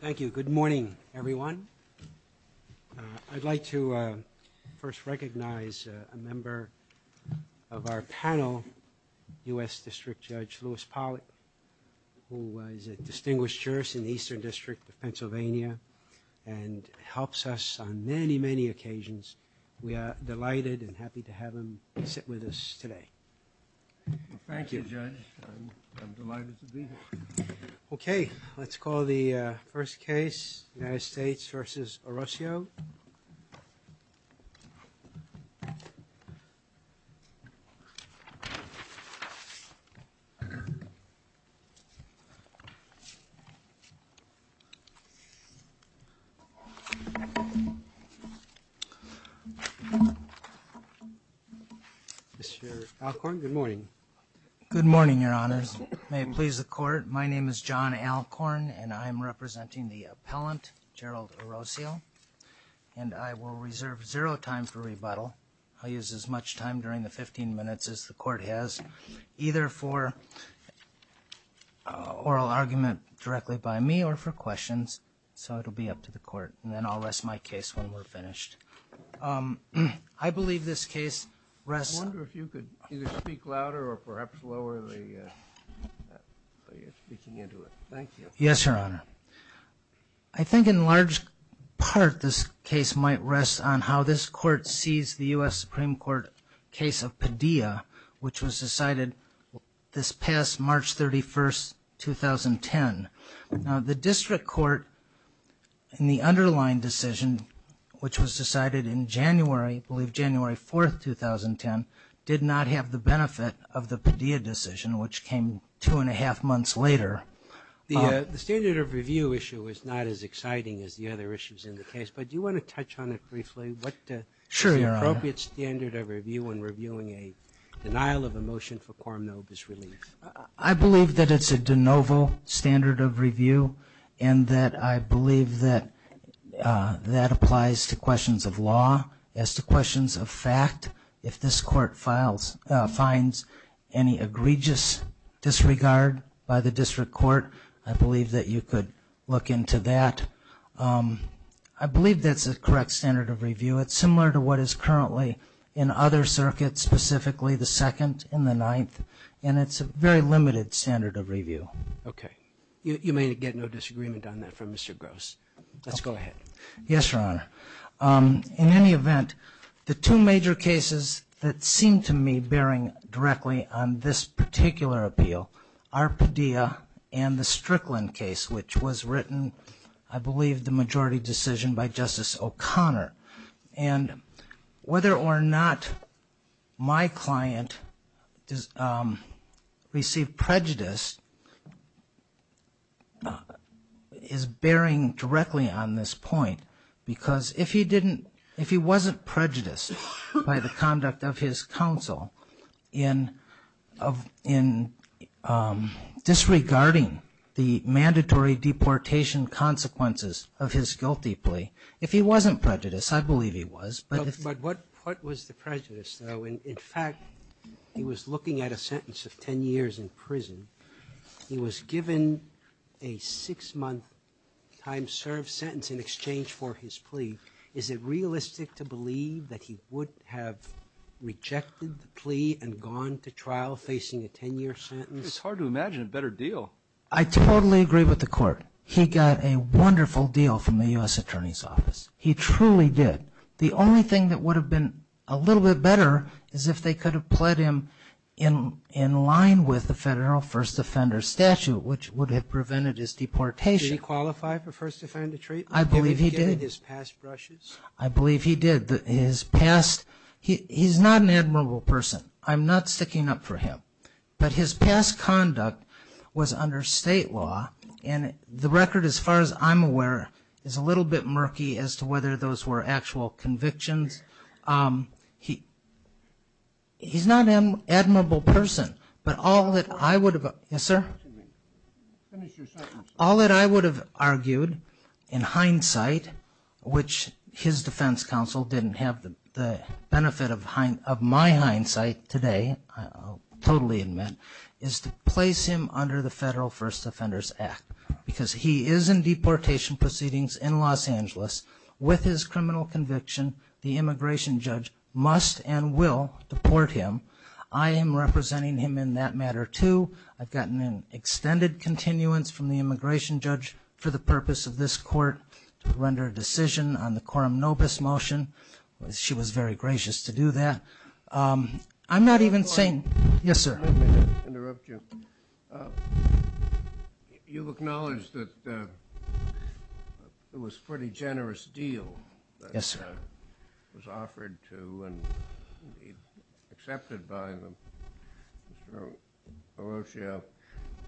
Thank you. Good morning, everyone. I'd like to first recognize a member of our panel, U.S. District Judge Lewis Pollack, who is a distinguished jurist in the Eastern District of Pennsylvania and helps us on many, many occasions. We are delighted and happy to have him sit with us today. Thank you, Judge. I'm delighted to be here. Okay, let's call the first case, United States v. Orocio. Mr. Alcorn, good morning. Good morning, Your Honors. May it please the Court, my name is John Alcorn and I'm I'll use as much time during the 15 minutes as the Court has, either for oral argument directly by me or for questions, so it'll be up to the Court, and then I'll rest my case when we're finished. I believe this case rests on how this court sees the I wonder if you could either speak louder or perhaps lower the volume. Yes, Your Honor. I think in large part this case might rest on how this court sees the U.S. Supreme Court case of Padilla, which was decided this past March 31st, 2010. Now the District Court, in the underlying decision, which was decided in January, I believe January 4th, 2010, did not have the benefit of the Padilla decision, which came two and a half months later. The standard of review issue is not as exciting as the other issues in the case, but do you want to touch on it briefly? Sure, Your Honor. What is the appropriate standard of review when reviewing a denial of a motion for quorum nobis relief? I believe that it's a de novo standard of review, and that I believe that that applies to questions of law as to questions of fact. If this court finds any egregious disregard by the District Court, I believe that you could look into that. I believe that's a correct standard of review. It's similar to what is currently in other circuits, specifically the Second and the Ninth, and it's a very limited standard of review. Okay. You may get no disagreement on that from Mr. Gross. Let's go ahead. Yes, Your Honor. In any event, the two major cases that seem to me bearing directly on this particular appeal are Padilla and the Strickland case, which was written, I believe, the majority decision by Justice O'Connor. And whether or not my client received prejudice is bearing directly on this point, because if he wasn't prejudiced by the conduct of his counsel in disregarding the mandatory deportation consequences of his guilty plea, if he wasn't prejudiced, I believe he was. But what was the prejudice, though? In fact, he was looking at a sentence of 10 years in prison. He was given a six-month time served sentence in exchange for his plea. Is it realistic to believe that he would have rejected the plea and gone to trial facing a 10-year sentence? It's hard to imagine a better deal. I totally agree with the Court. He got a wonderful deal from the U.S. Attorney's Office. He truly did. The only thing that would have been a little bit better is if they could have pled him in line with the federal first offender statute, which would have prevented his deportation. Did he qualify for first offender treatment? I believe he did. Given his past brushes? I believe he did. He's not an admirable person. I'm not sticking up for him. But his past conduct was under state law. And the record, as far as I'm aware, is a little bit murky as to whether those were actual convictions. He's not an admirable person. But all that I would have argued in hindsight, which his defense counsel didn't have the benefit of my hindsight today, I'll totally admit, is to place him under the Federal First Offenders Act. Because he is in deportation proceedings in Los Angeles. With his criminal conviction, the immigration judge must and will deport him. I am representing him in that matter, too. I've gotten an extended continuance from the immigration judge for the purpose of this court to render a decision on the Coram Nobis motion. She was very gracious to do that. I'm not even saying— Yes, sir. Let me interrupt you. You've acknowledged that it was a pretty generous deal— —was offered to and accepted by Mr. Orocio.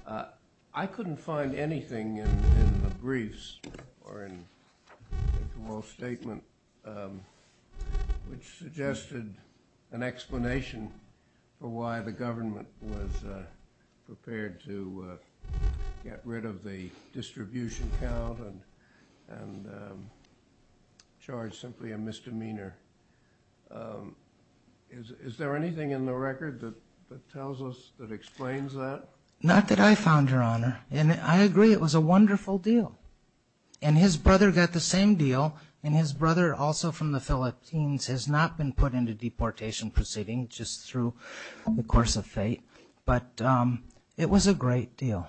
Is there anything in the record that tells us, that explains that? Not that I found, Your Honor. And I agree, it was a wonderful deal. And his brother got the same deal. And his brother, also from the Philippines, has not been put into deportation proceedings, just through the course of fate. But it was a great deal.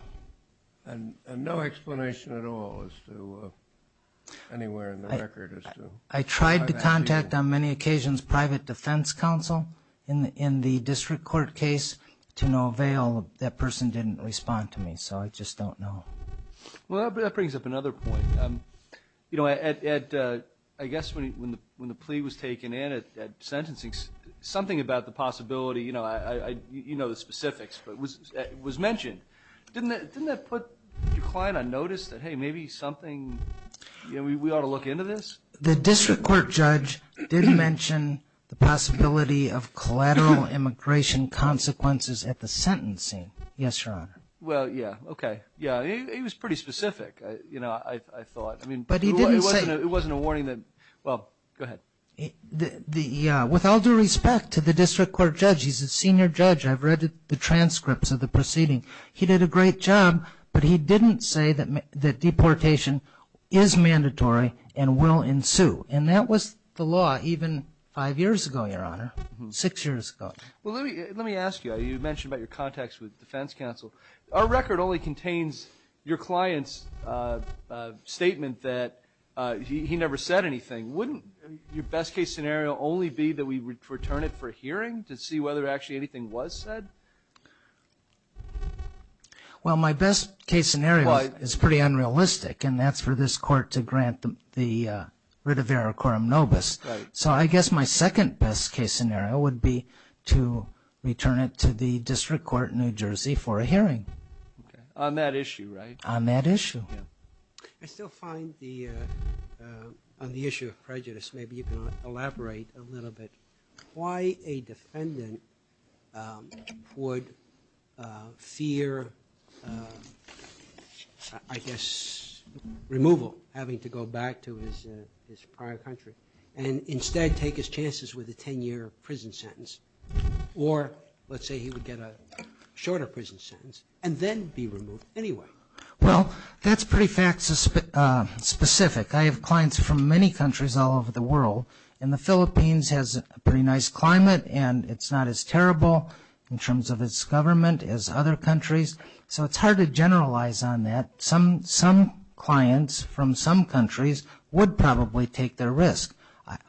And no explanation at all as to—anywhere in the record as to— I tried to contact, on many occasions, private defense counsel in the district court case. To no avail. That person didn't respond to me. So I just don't know. Well, that brings up another point. You know, Ed, I guess when the plea was taken in at sentencing, something about the possibility—you know the specifics, but it was mentioned. Didn't that put your client on notice that, hey, maybe something—we ought to look into this? The district court judge did mention the possibility of collateral immigration consequences at the sentencing. Yes, Your Honor. Well, yeah, okay. Yeah, he was pretty specific, you know, I thought. But he didn't say— It wasn't a warning that—well, go ahead. With all due respect to the district court judge, he's a senior judge. I've read the transcripts of the proceeding. He did a great job, but he didn't say that deportation is mandatory and will ensue. And that was the law even five years ago, Your Honor. Six years ago. Well, let me ask you. You mentioned about your contacts with the defense counsel. Our record only contains your client's statement that he never said anything. Wouldn't your best-case scenario only be that we return it for hearing to see whether actually anything was said? Well, my best-case scenario is pretty unrealistic, and that's for this court to grant the writ of ericorum nobis. So I guess my second best-case scenario would be to return it to the district court in New Jersey for a hearing. On that issue, right? On that issue. I still find the—on the issue of prejudice, maybe you can elaborate a little bit why a defendant would fear, I guess, removal, having to go back to his prior country, and instead take his chances with a 10-year prison sentence, or let's say he would get a shorter prison sentence, and then be removed anyway. Well, that's pretty fact-specific. I have clients from many countries all over the world, and the Philippines has a pretty nice climate, and it's not as terrible in terms of its government as other countries, so it's hard to generalize on that. Some clients from some countries would probably take their risk.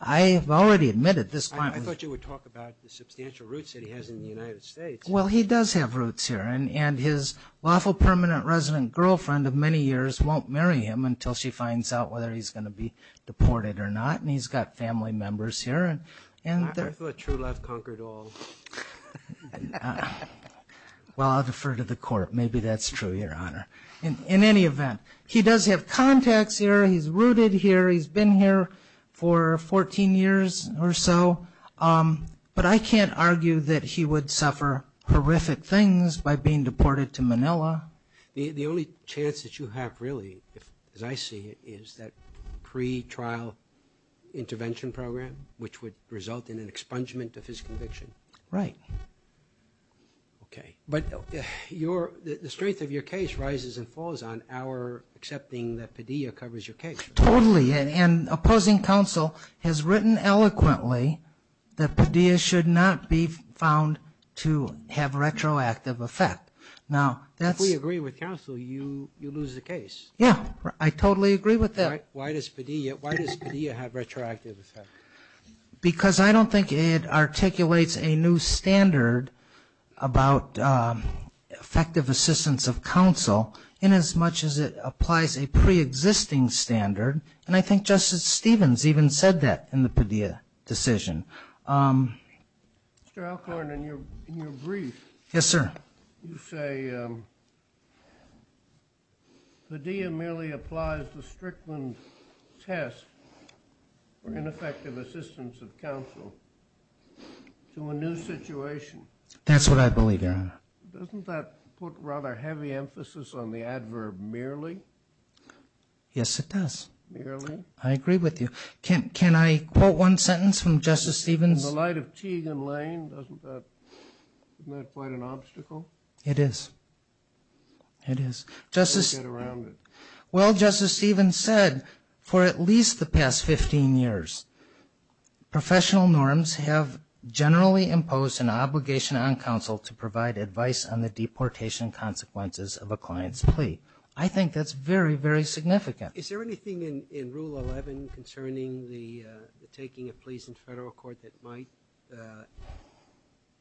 I have already admitted this client— I thought you would talk about the substantial roots that he has in the United States. Well, he does have roots here, and his lawful permanent resident girlfriend of many years won't marry him until she finds out whether he's going to be deported or not, and he's got family members here. I thought true love conquered all. Well, I'll defer to the court. Maybe that's true, Your Honor. In any event, he does have contacts here. He's rooted here. He's been here for 14 years or so, but I can't argue that he would suffer horrific things by being deported to Manila. The only chance that you have, really, as I see it, is that pretrial intervention program, which would result in an expungement of his conviction. Right. Okay, but the strength of your case rises and falls on our accepting that Padilla covers your case. Totally, and opposing counsel has written eloquently that Padilla should not be found to have retroactive effect. If we agree with counsel, you lose the case. Yeah, I totally agree with that. Why does Padilla have retroactive effect? Because I don't think it articulates a new standard about effective assistance of counsel in as much as it applies a preexisting standard, and I think Justice Stevens even said that in the Padilla decision. Mr. Alcorn, in your brief, you say Padilla merely applies the Strickland test for ineffective assistance of counsel to a new situation. That's what I believe, Your Honor. Doesn't that put rather heavy emphasis on the adverb merely? Yes, it does. Merely? I agree with you. Can I quote one sentence from Justice Stevens? In the light of Teague and Lane, isn't that quite an obstacle? It is. It is. Don't get around it. Well, Justice Stevens said, for at least the past 15 years, professional norms have generally imposed an obligation on counsel to provide advice on the deportation consequences of a client's plea. I think that's very, very significant. Is there anything in Rule 11 concerning the taking of pleas in federal court that might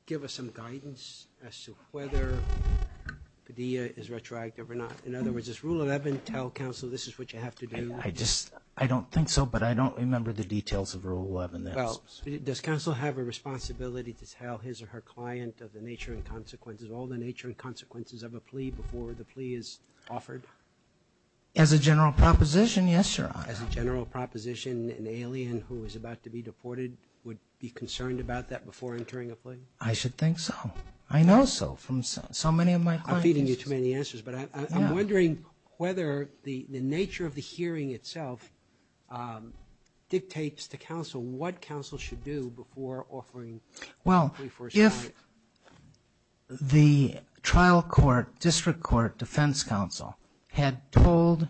give us some guidance as to whether Padilla is retroactive or not? In other words, does Rule 11 tell counsel this is what you have to do? I don't think so, but I don't remember the details of Rule 11. Does counsel have a responsibility to tell his or her client of the nature and consequences, all the nature and consequences of a plea before the plea is offered? As a general proposition, yes, Your Honor. As a general proposition, an alien who is about to be deported would be concerned about that before entering a plea? I should think so. I know so, from so many of my clients. I'm feeding you too many answers, but I'm wondering whether the nature of the hearing itself dictates to counsel what counsel should do before offering a plea for assignment. If the trial court, district court, defense counsel had told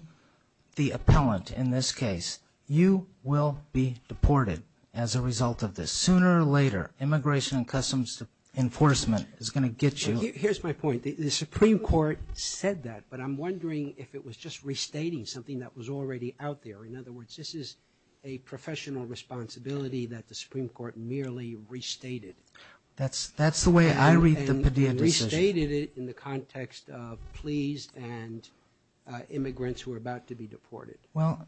the appellant in this case, you will be deported as a result of this. Sooner or later, Immigration and Customs Enforcement is going to get you. Here's my point. The Supreme Court said that, but I'm wondering if it was just restating something that was already out there. In other words, this is a professional responsibility that the Supreme Court merely restated. That's the way I read the Padilla decision. And restated it in the context of pleas and immigrants who are about to be deported. Well,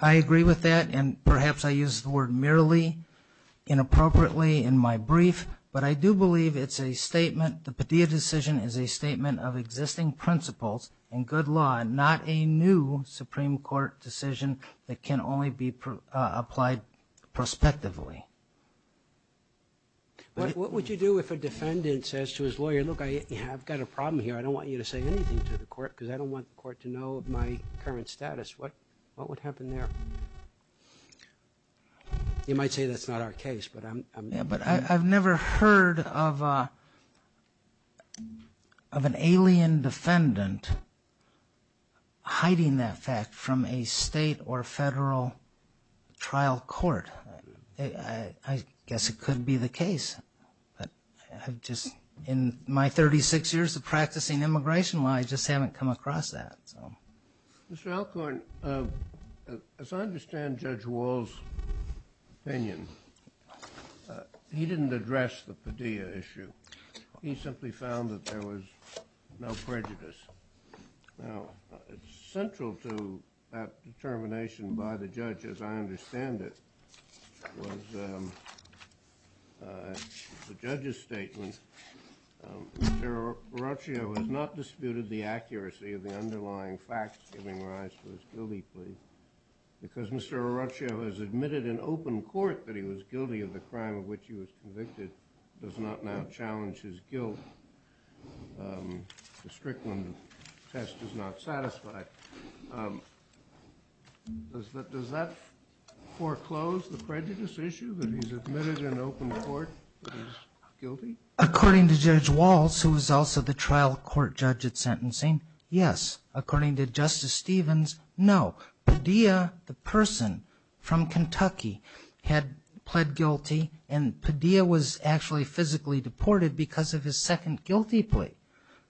I agree with that, and perhaps I used the word merely, inappropriately in my brief, but I do believe it's a statement, the Padilla decision is a statement of existing principles and good law, not a new Supreme Court decision that can only be applied prospectively. What would you do if a defendant says to his lawyer, look, I've got a problem here, I don't want you to say anything to the court because I don't want the court to know of my current status. What would happen there? You might say that's not our case, but I'm... But I've never heard of an alien defendant hiding that fact from a state or federal trial court. I guess it could be the case. In my 36 years of practicing immigration law, I just haven't come across that. Mr. Alcorn, as I understand Judge Wall's opinion, he didn't address the Padilla issue. He simply found that there was no prejudice. Now, central to that determination by the judge, as I understand it, was the judge's statement. Mr. Arruccio has not disputed the accuracy of the underlying facts giving rise to his guilty plea because Mr. Arruccio has admitted in open court that he was guilty of the crime of which he was convicted, does not now challenge his guilt. The Strickland test is not satisfied. Does that foreclose the prejudice issue that he's admitted in open court that he's guilty? According to Judge Wall, who was also the trial court judge at sentencing, yes. According to Justice Stevens, no. Padilla, the person from Kentucky, had pled guilty, and Padilla was actually physically deported because of his second guilty plea.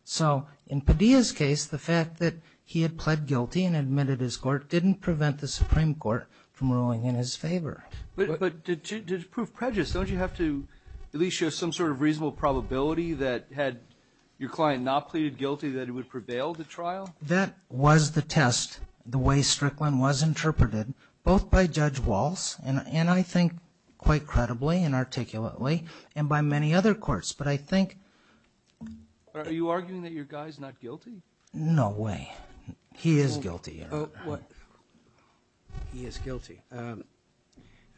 So in Padilla's case, the fact that he had pled guilty and admitted his court didn't prevent the Supreme Court from ruling in his favor. But to prove prejudice, don't you have to at least show some sort of reasonable probability that had your client not pleaded guilty that it would prevail the trial? That was the test, the way Strickland was interpreted, both by Judge Wall, and I think quite credibly and articulately, and by many other courts. Are you arguing that your guy's not guilty? No way. He is guilty, Eric. He is guilty. I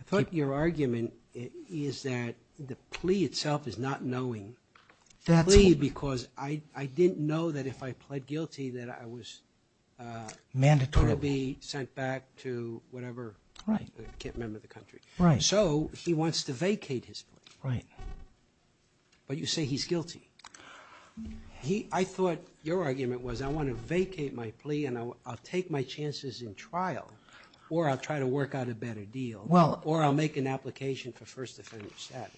thought your argument is that the plea itself is not knowing. Plea because I didn't know that if I pled guilty that I would be sent back to whatever, I can't remember the country. So he wants to vacate his plea. Right. But you say he's guilty. I thought your argument was I want to vacate my plea and I'll take my chances in trial, or I'll try to work out a better deal, or I'll make an application for first offender status.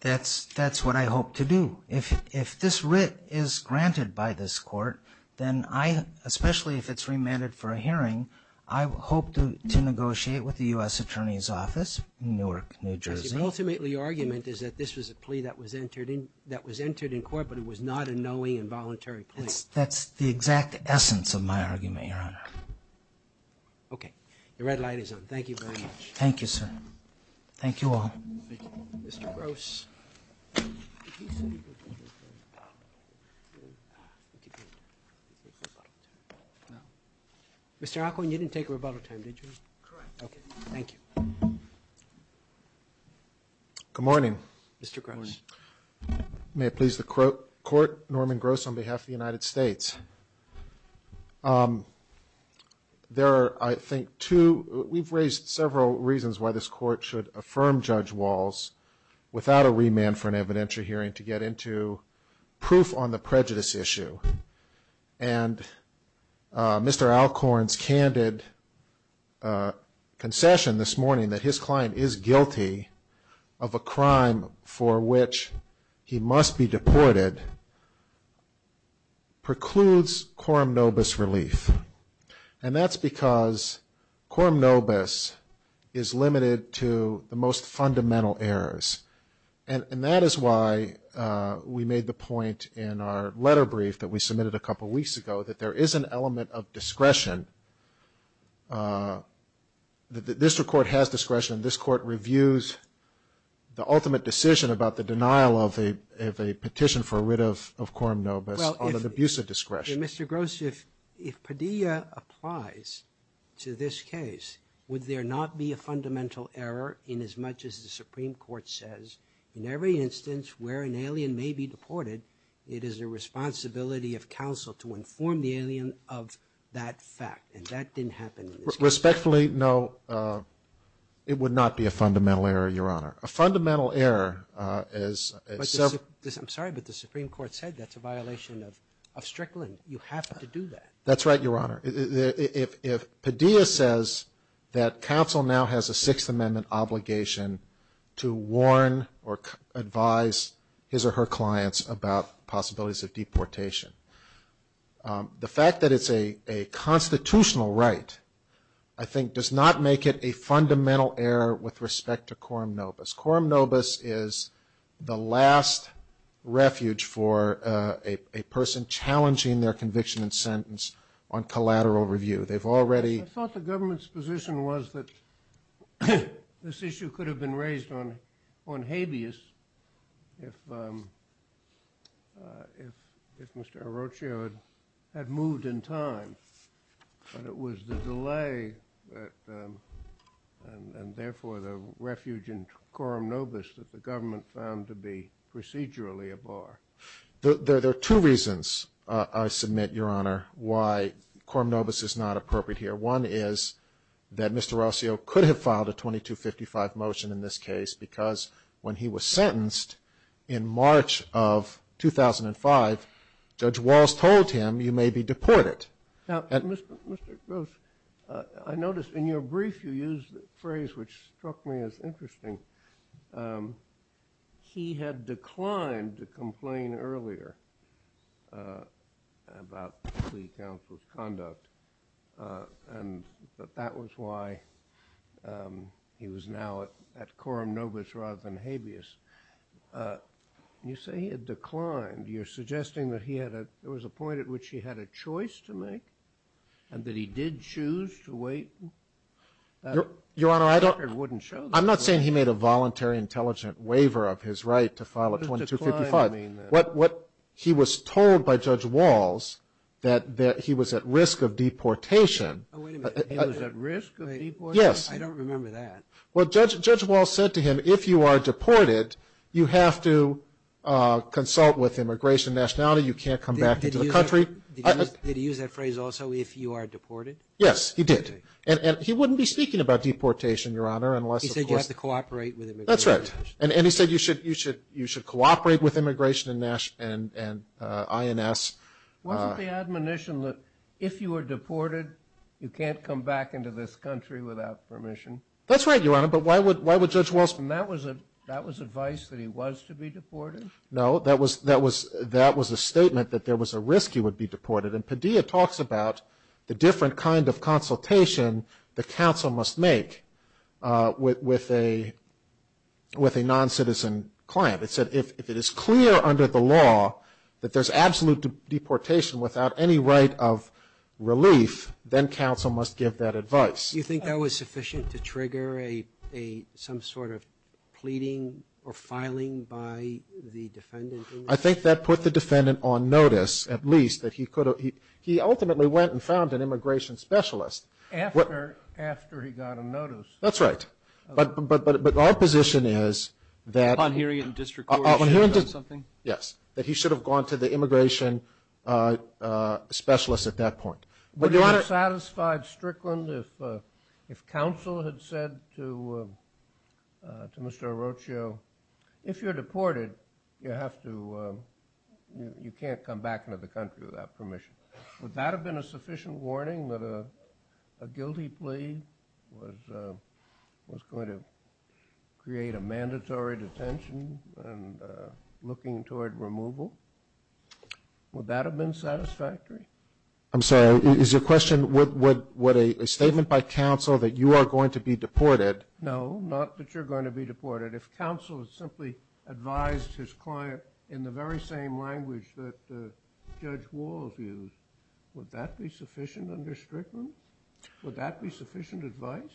That's what I hope to do. If this writ is granted by this court, then I, especially if it's remanded for a hearing, I hope to negotiate with the U.S. Attorney's Office in Newark, New Jersey. So ultimately your argument is that this was a plea that was entered in court, but it was not a knowing and voluntary plea. That's the exact essence of my argument, Your Honor. Okay. The red light is on. Thank you very much. Thank you, sir. Thank you all. Thank you. Mr. Gross. Mr. Occohan, you didn't take rebuttal time, did you? Correct. Okay. Thank you. Good morning. Mr. Gross. Good morning. May it please the Court, Norman Gross on behalf of the United States. There are, I think, two, we've raised several reasons why this court should affirm Judge Walz without a remand for an evidentiary hearing to get into proof on the prejudice issue. And Mr. Alcorn's candid concession this morning that his client is guilty of a crime for which he must be deported precludes quorum nobis relief. And that's because quorum nobis is limited to the most fundamental errors. And that is why we made the point in our letter brief that we submitted a couple weeks ago that there is an element of discretion, that this Court has discretion, this Court reviews the ultimate decision about the denial of a petition for rid of quorum nobis on an abuse of discretion. Mr. Gross, if Padilla applies to this case, would there not be a fundamental error inasmuch as the Supreme Court says in every instance where an alien may be deported, it is the responsibility of counsel to inform the alien of that fact. And that didn't happen in this case. Respectfully, no, it would not be a fundamental error, Your Honor. A fundamental error is... I'm sorry, but the Supreme Court said that's a violation of Strickland. You have to do that. That's right, Your Honor. If Padilla says that counsel now has a Sixth Amendment obligation to warn or advise his or her clients about possibilities of deportation, the fact that it's a constitutional right, I think, does not make it a fundamental error with respect to quorum nobis. Quorum nobis is the last refuge for a person challenging their conviction and sentence on collateral review. They've already... I thought the government's position was that this issue could have been raised on habeas if Mr. Arrocchio had moved in time, but it was the delay and, therefore, the refuge in quorum nobis that the government found to be procedurally a bar. There are two reasons I submit, Your Honor, why quorum nobis is not appropriate here. One is that Mr. Arrocchio could have filed a 2255 motion in this case because when he was sentenced in March of 2005, Judge Walz told him, you may be deported. Mr. Gross, I noticed in your brief you used a phrase which struck me as interesting. He had declined to complain earlier about the plea counsel's conduct, but that was why he was now at quorum nobis rather than habeas. You say he had declined. You're suggesting that there was a point at which he had a choice to make and that he did choose to wait? Your Honor, I don't... The record wouldn't show that. I'm not saying he made a voluntary intelligent waiver of his right to file a 2255. What he was told by Judge Walz, that he was at risk of deportation. Oh, wait a minute. He was at risk of deportation? Yes. I don't remember that. Well, Judge Walz said to him, if you are deported, you have to consult with immigration nationality. You can't come back into the country. Did he use that phrase also, if you are deported? Yes, he did. And he wouldn't be speaking about deportation, Your Honor, unless of course... He said you have to cooperate with immigration. That's right. And he said you should cooperate with immigration and INS. Wasn't the admonition that if you were deported, you can't come back into this country without permission? That's right, Your Honor, but why would Judge Walz... And that was advice that he was to be deported? No, that was a statement that there was a risk he would be deported. And Padilla talks about the different kind of consultation the counsel must make with a non-citizen client. It said if it is clear under the law that there's absolute deportation without any right of relief, then counsel must give that advice. Do you think that was sufficient to trigger some sort of pleading or filing by the defendant? I think that put the defendant on notice, at least, that he could have... He ultimately went and found an immigration specialist. After he got a notice. That's right. But our position is that... Upon hearing it in district court, he should have done something? Yes, that he should have gone to the immigration specialist at that point. Would you have satisfied Strickland if counsel had said to Mr. Orochio, if you're deported, you have to... You can't come back into the country without permission. Would that have been a sufficient warning that a guilty plea was going to create a mandatory detention and looking toward removal? Would that have been satisfactory? I'm sorry. Is your question, would a statement by counsel that you are going to be deported... No, not that you're going to be deported. If counsel had simply advised his client in the very same language that Judge Walls used, would that be sufficient under Strickland? Would that be sufficient advice?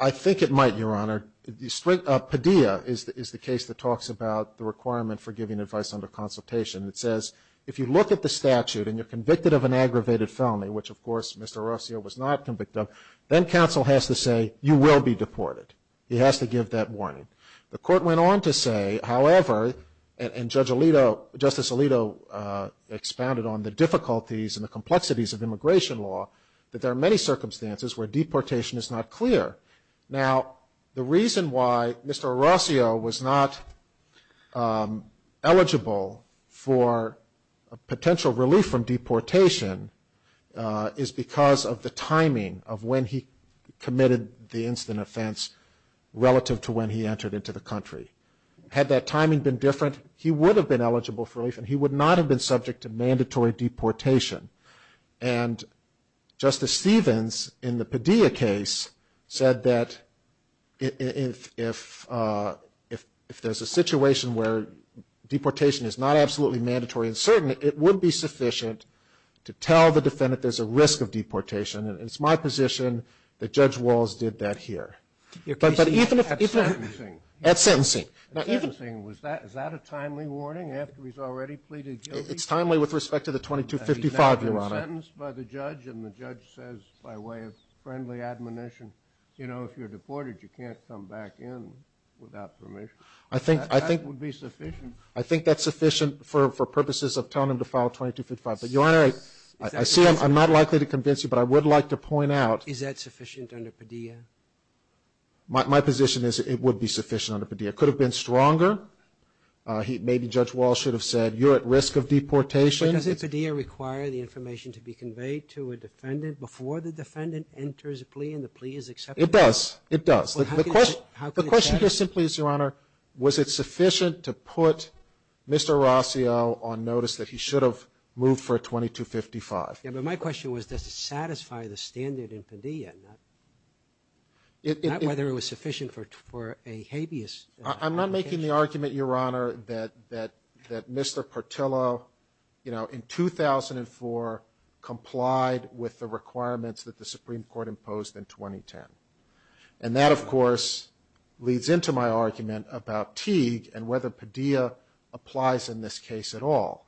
I think it might, Your Honor. Padilla is the case that talks about the requirement for giving advice under consultation. It says, if you look at the statute and you're convicted of an aggravated felony, which, of course, Mr. Orochio was not convicted of, then counsel has to say, you will be deported. He has to give that warning. The court went on to say, however, and Judge Alito, Justice Alito expounded on the difficulties and the complexities of immigration law, that there are many circumstances where deportation is not clear. Now, the reason why Mr. Orochio was not eligible for potential relief from deportation is because of the timing of when he committed the incident offense relative to when he entered into the country. Had that timing been different, he would have been eligible for relief and he would not have been subject to mandatory deportation. And Justice Stevens, in the Padilla case, said that if there's a situation where deportation is not absolutely mandatory and certain, it would be sufficient to tell the defendant there's a risk of deportation. And it's my position that Judge Walls did that here. At sentencing? At sentencing. At sentencing, is that a timely warning after he's already pleaded guilty? It's timely with respect to the 2255, Your Honor. He's not been sentenced by the judge, and the judge says by way of friendly admonition, you know, if you're deported, you can't come back in without permission. That would be sufficient. I think that's sufficient for purposes of telling him to file 2255. But, Your Honor, I see I'm not likely to convince you, but I would like to point out. Is that sufficient under Padilla? My position is it would be sufficient under Padilla. It could have been stronger. Maybe Judge Walls should have said, you're at risk of deportation. Does Padilla require the information to be conveyed to a defendant before the defendant enters a plea and the plea is accepted? It does. It does. The question here simply is, Your Honor, was it sufficient to put Mr. Rossio on notice that he should have moved for a 2255? Yeah, but my question was, does it satisfy the standard in Padilla? Not whether it was sufficient for a habeas. I'm not making the argument, Your Honor, that Mr. Portillo, you know, in 2004 complied with the requirements that the Supreme Court imposed in 2010. And that, of course, leads into my argument about Teague and whether Padilla applies in this case at all.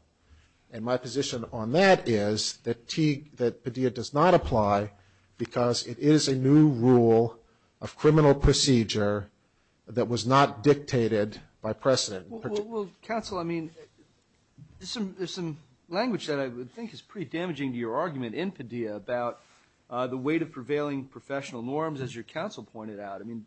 And my position on that is that Padilla does not apply because it is a new rule of criminal procedure that was not dictated by precedent. Well, counsel, I mean, there's some language that I think is pretty damaging to your argument in Padilla about the weight of prevailing professional norms, as your counsel pointed out. I mean,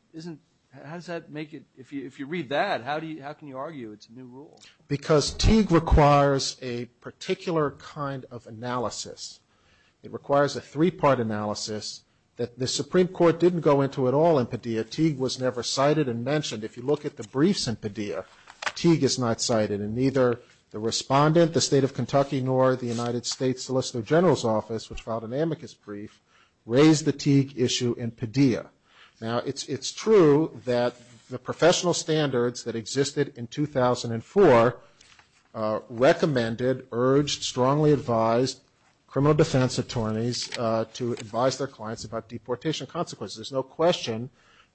how does that make it, if you read that, how can you argue it's a new rule? Because Teague requires a particular kind of analysis. It requires a three-part analysis that the Supreme Court didn't go into at all in Padilla. Teague was never cited and mentioned. If you look at the briefs in Padilla, Teague is not cited. And neither the respondent, the State of Kentucky, nor the United States Solicitor General's Office, which filed an amicus brief, raised the Teague issue in Padilla. Now, it's true that the professional standards that existed in 2004 recommended, urged, strongly advised criminal defense attorneys to advise their clients about deportation consequences. There's no question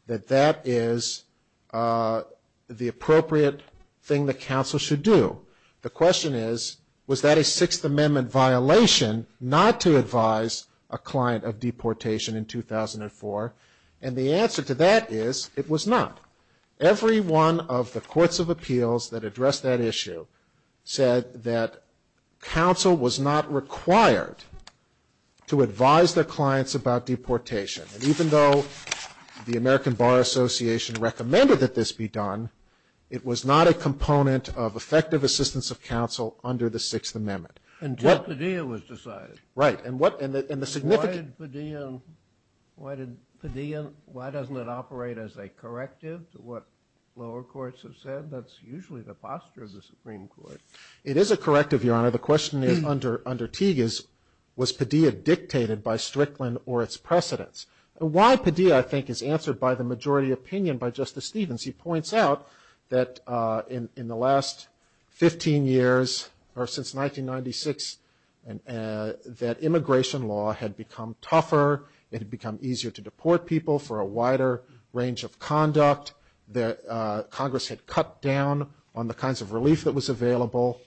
that that is the appropriate thing that counsel should do. The question is, was that a Sixth Amendment violation not to advise a client of deportation in 2004? And the answer to that is, it was not. Every one of the courts of appeals that addressed that issue said that counsel was not required to advise their clients about deportation. And even though the American Bar Association recommended that this be done, it was not a component of effective assistance of counsel under the Sixth Amendment. Until Padilla was decided. Right. And what – and the significant – Why did Padilla – why did Padilla – why doesn't it operate as a corrective to what lower courts have said? That's usually the posture of the Supreme Court. It is a corrective, Your Honor. The question is, under Teague, was Padilla dictated by Strickland or its precedents? Why Padilla, I think, is answered by the majority opinion by Justice Stevens. He points out that in the last 15 years, or since 1996, that immigration law had become tougher. It had become easier to deport people for a wider range of conduct. Congress had cut down on the kinds of relief that was available.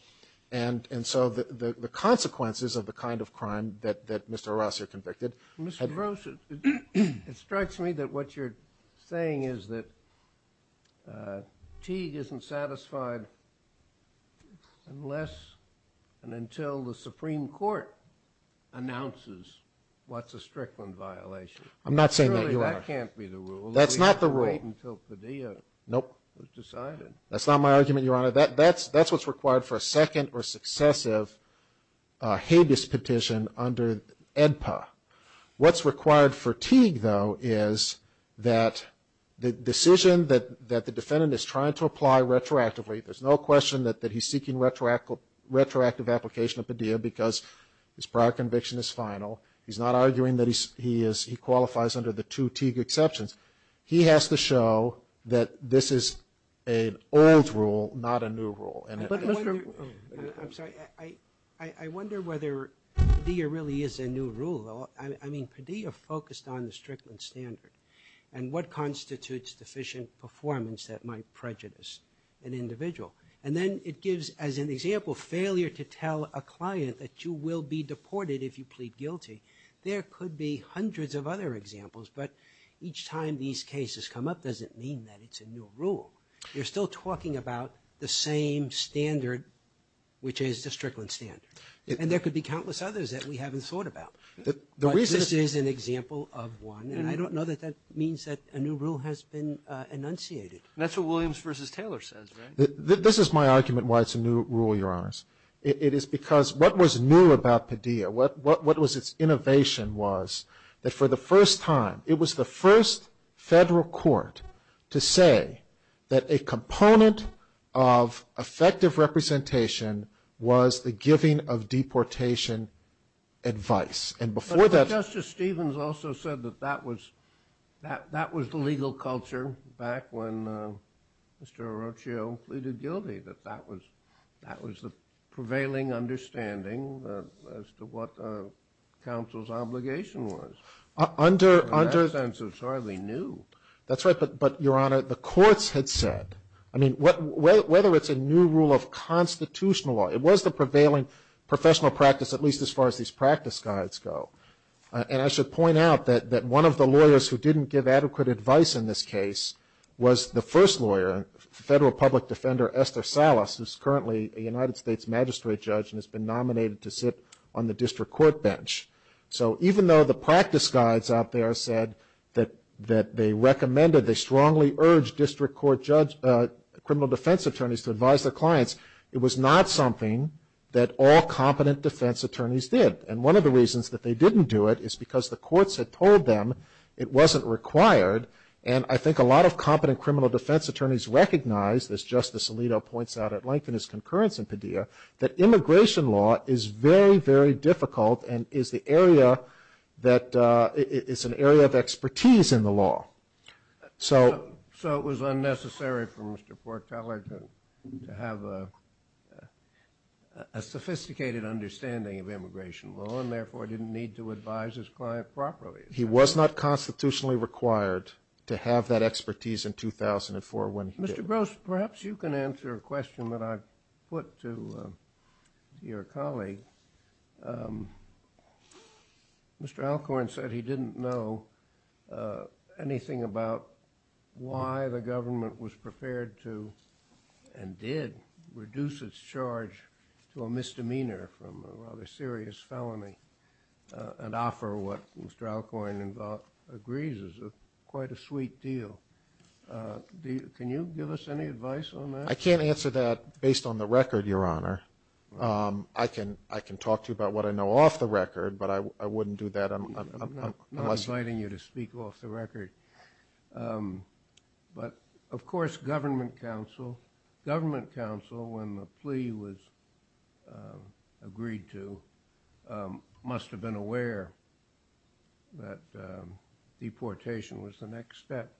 And so the consequences of the kind of crime that Mr. Horacio convicted had – Mr. Gross, it strikes me that what you're saying is that Teague isn't satisfied unless and until the Supreme Court announces what's a Strickland violation. I'm not saying that, Your Honor. Surely that can't be the rule. That's not the rule. We have to wait until Padilla was decided. Nope. That's not my argument, Your Honor. That's what's required for a second or successive habeas petition under AEDPA. What's required for Teague, though, is that the decision that the defendant is trying to apply retroactively – there's no question that he's seeking retroactive application of Padilla because his prior conviction is final. He's not arguing that he qualifies under the two Teague exceptions. He has to show that this is an old rule, not a new rule. But, Mr. – I'm sorry. I wonder whether Padilla really is a new rule. I mean, Padilla focused on the Strickland standard and what constitutes deficient performance that might prejudice an individual. And then it gives, as an example, failure to tell a client that you will be deported if you plead guilty. There could be hundreds of other examples, but each time these cases come up doesn't mean that it's a new rule. You're still talking about the same standard, which is the Strickland standard. And there could be countless others that we haven't thought about. But this is an example of one, and I don't know that that means that a new rule has been enunciated. And that's what Williams v. Taylor says, right? This is my argument why it's a new rule, Your Honors. It is because what was new about Padilla, what was its innovation, was that for the first time it was the first federal court to say that a component of effective representation was the giving of deportation advice. And before that – But Justice Stevens also said that that was the legal culture back when Mr. Orochio pleaded guilty, that that was the prevailing understanding as to what counsel's obligation was. Under – And so it's hardly new. That's right, but, Your Honor, the courts had said – I mean, whether it's a new rule of constitutional law, it was the prevailing professional practice, at least as far as these practice guides go. And I should point out that one of the lawyers who didn't give adequate advice in this case was the first lawyer, federal public defender Esther Salas, who's currently a United States magistrate judge and has been nominated to sit on the district court bench. So even though the practice guides out there said that they recommended, they strongly urged district court criminal defense attorneys to advise their clients, it was not something that all competent defense attorneys did. And one of the reasons that they didn't do it is because the courts had told them it wasn't required. And I think a lot of competent criminal defense attorneys recognize, as Justice Alito points out at length in his concurrence in Padilla, that immigration law is very, very difficult and is the area that – it's an area of expertise in the law. So it was unnecessary for Mr. Porteller to have a sophisticated understanding of immigration law and therefore didn't need to advise his client properly. He was not constitutionally required to have that expertise in 2004 when he did. Mr. Gross, perhaps you can answer a question that I put to your colleague. Mr. Alcorn said he didn't know anything about why the government was prepared to and did reduce its charge to a misdemeanor from a rather serious felony and offer what Mr. Alcorn agrees is quite a sweet deal. Can you give us any advice on that? I can't answer that based on the record, Your Honor. I can talk to you about what I know off the record, but I wouldn't do that. I'm not inviting you to speak off the record. But, of course, government counsel, when the plea was agreed to, must have been aware that deportation was the next step.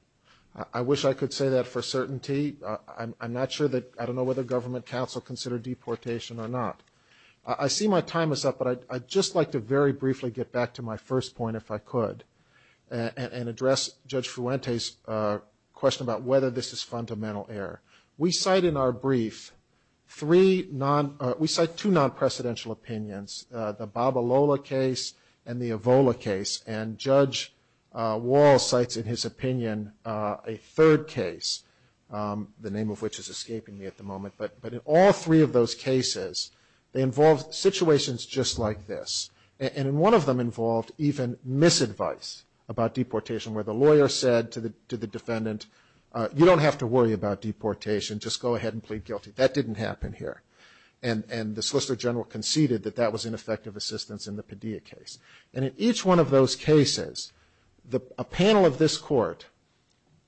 I wish I could say that for certainty. I'm not sure that – I don't know whether government counsel considered deportation or not. I see my time is up, but I'd just like to very briefly get back to my first point, if I could, and address Judge Fuente's question about whether this is fundamental error. We cite in our brief three non – we cite two non-presidential opinions, the Babalola case and the Evola case. And Judge Wall cites in his opinion a third case, the name of which is escaping me at the moment. But in all three of those cases, they involved situations just like this. And in one of them involved even misadvice about deportation, where the lawyer said to the defendant, you don't have to worry about deportation, just go ahead and plead guilty. That didn't happen here. And the Solicitor General conceded that that was ineffective assistance in the Padilla case. And in each one of those cases, a panel of this court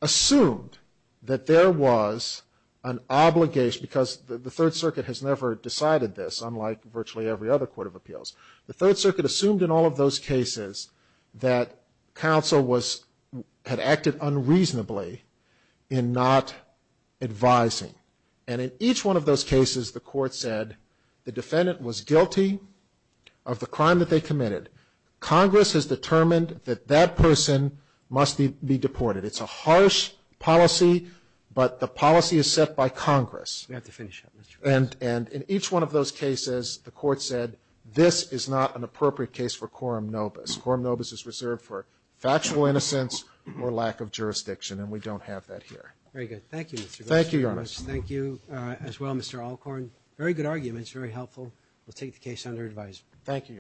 assumed that there was an obligation – because the Third Circuit has never decided this, unlike virtually every other court of appeals. The Third Circuit assumed in all of those cases that counsel had acted unreasonably in not advising. And in each one of those cases, the court said the defendant was guilty of the crime that they committed. Congress has determined that that person must be deported. It's a harsh policy, but the policy is set by Congress. And in each one of those cases, the court said this is not an appropriate case for quorum nobis. Quorum nobis is reserved for factual innocence or lack of jurisdiction, and we don't have that here. Very good. Thank you, Mr. Gorsuch. Thank you, Your Honor. Thank you as well, Mr. Alcorn. Very good arguments, very helpful. Thank you, Your Honor.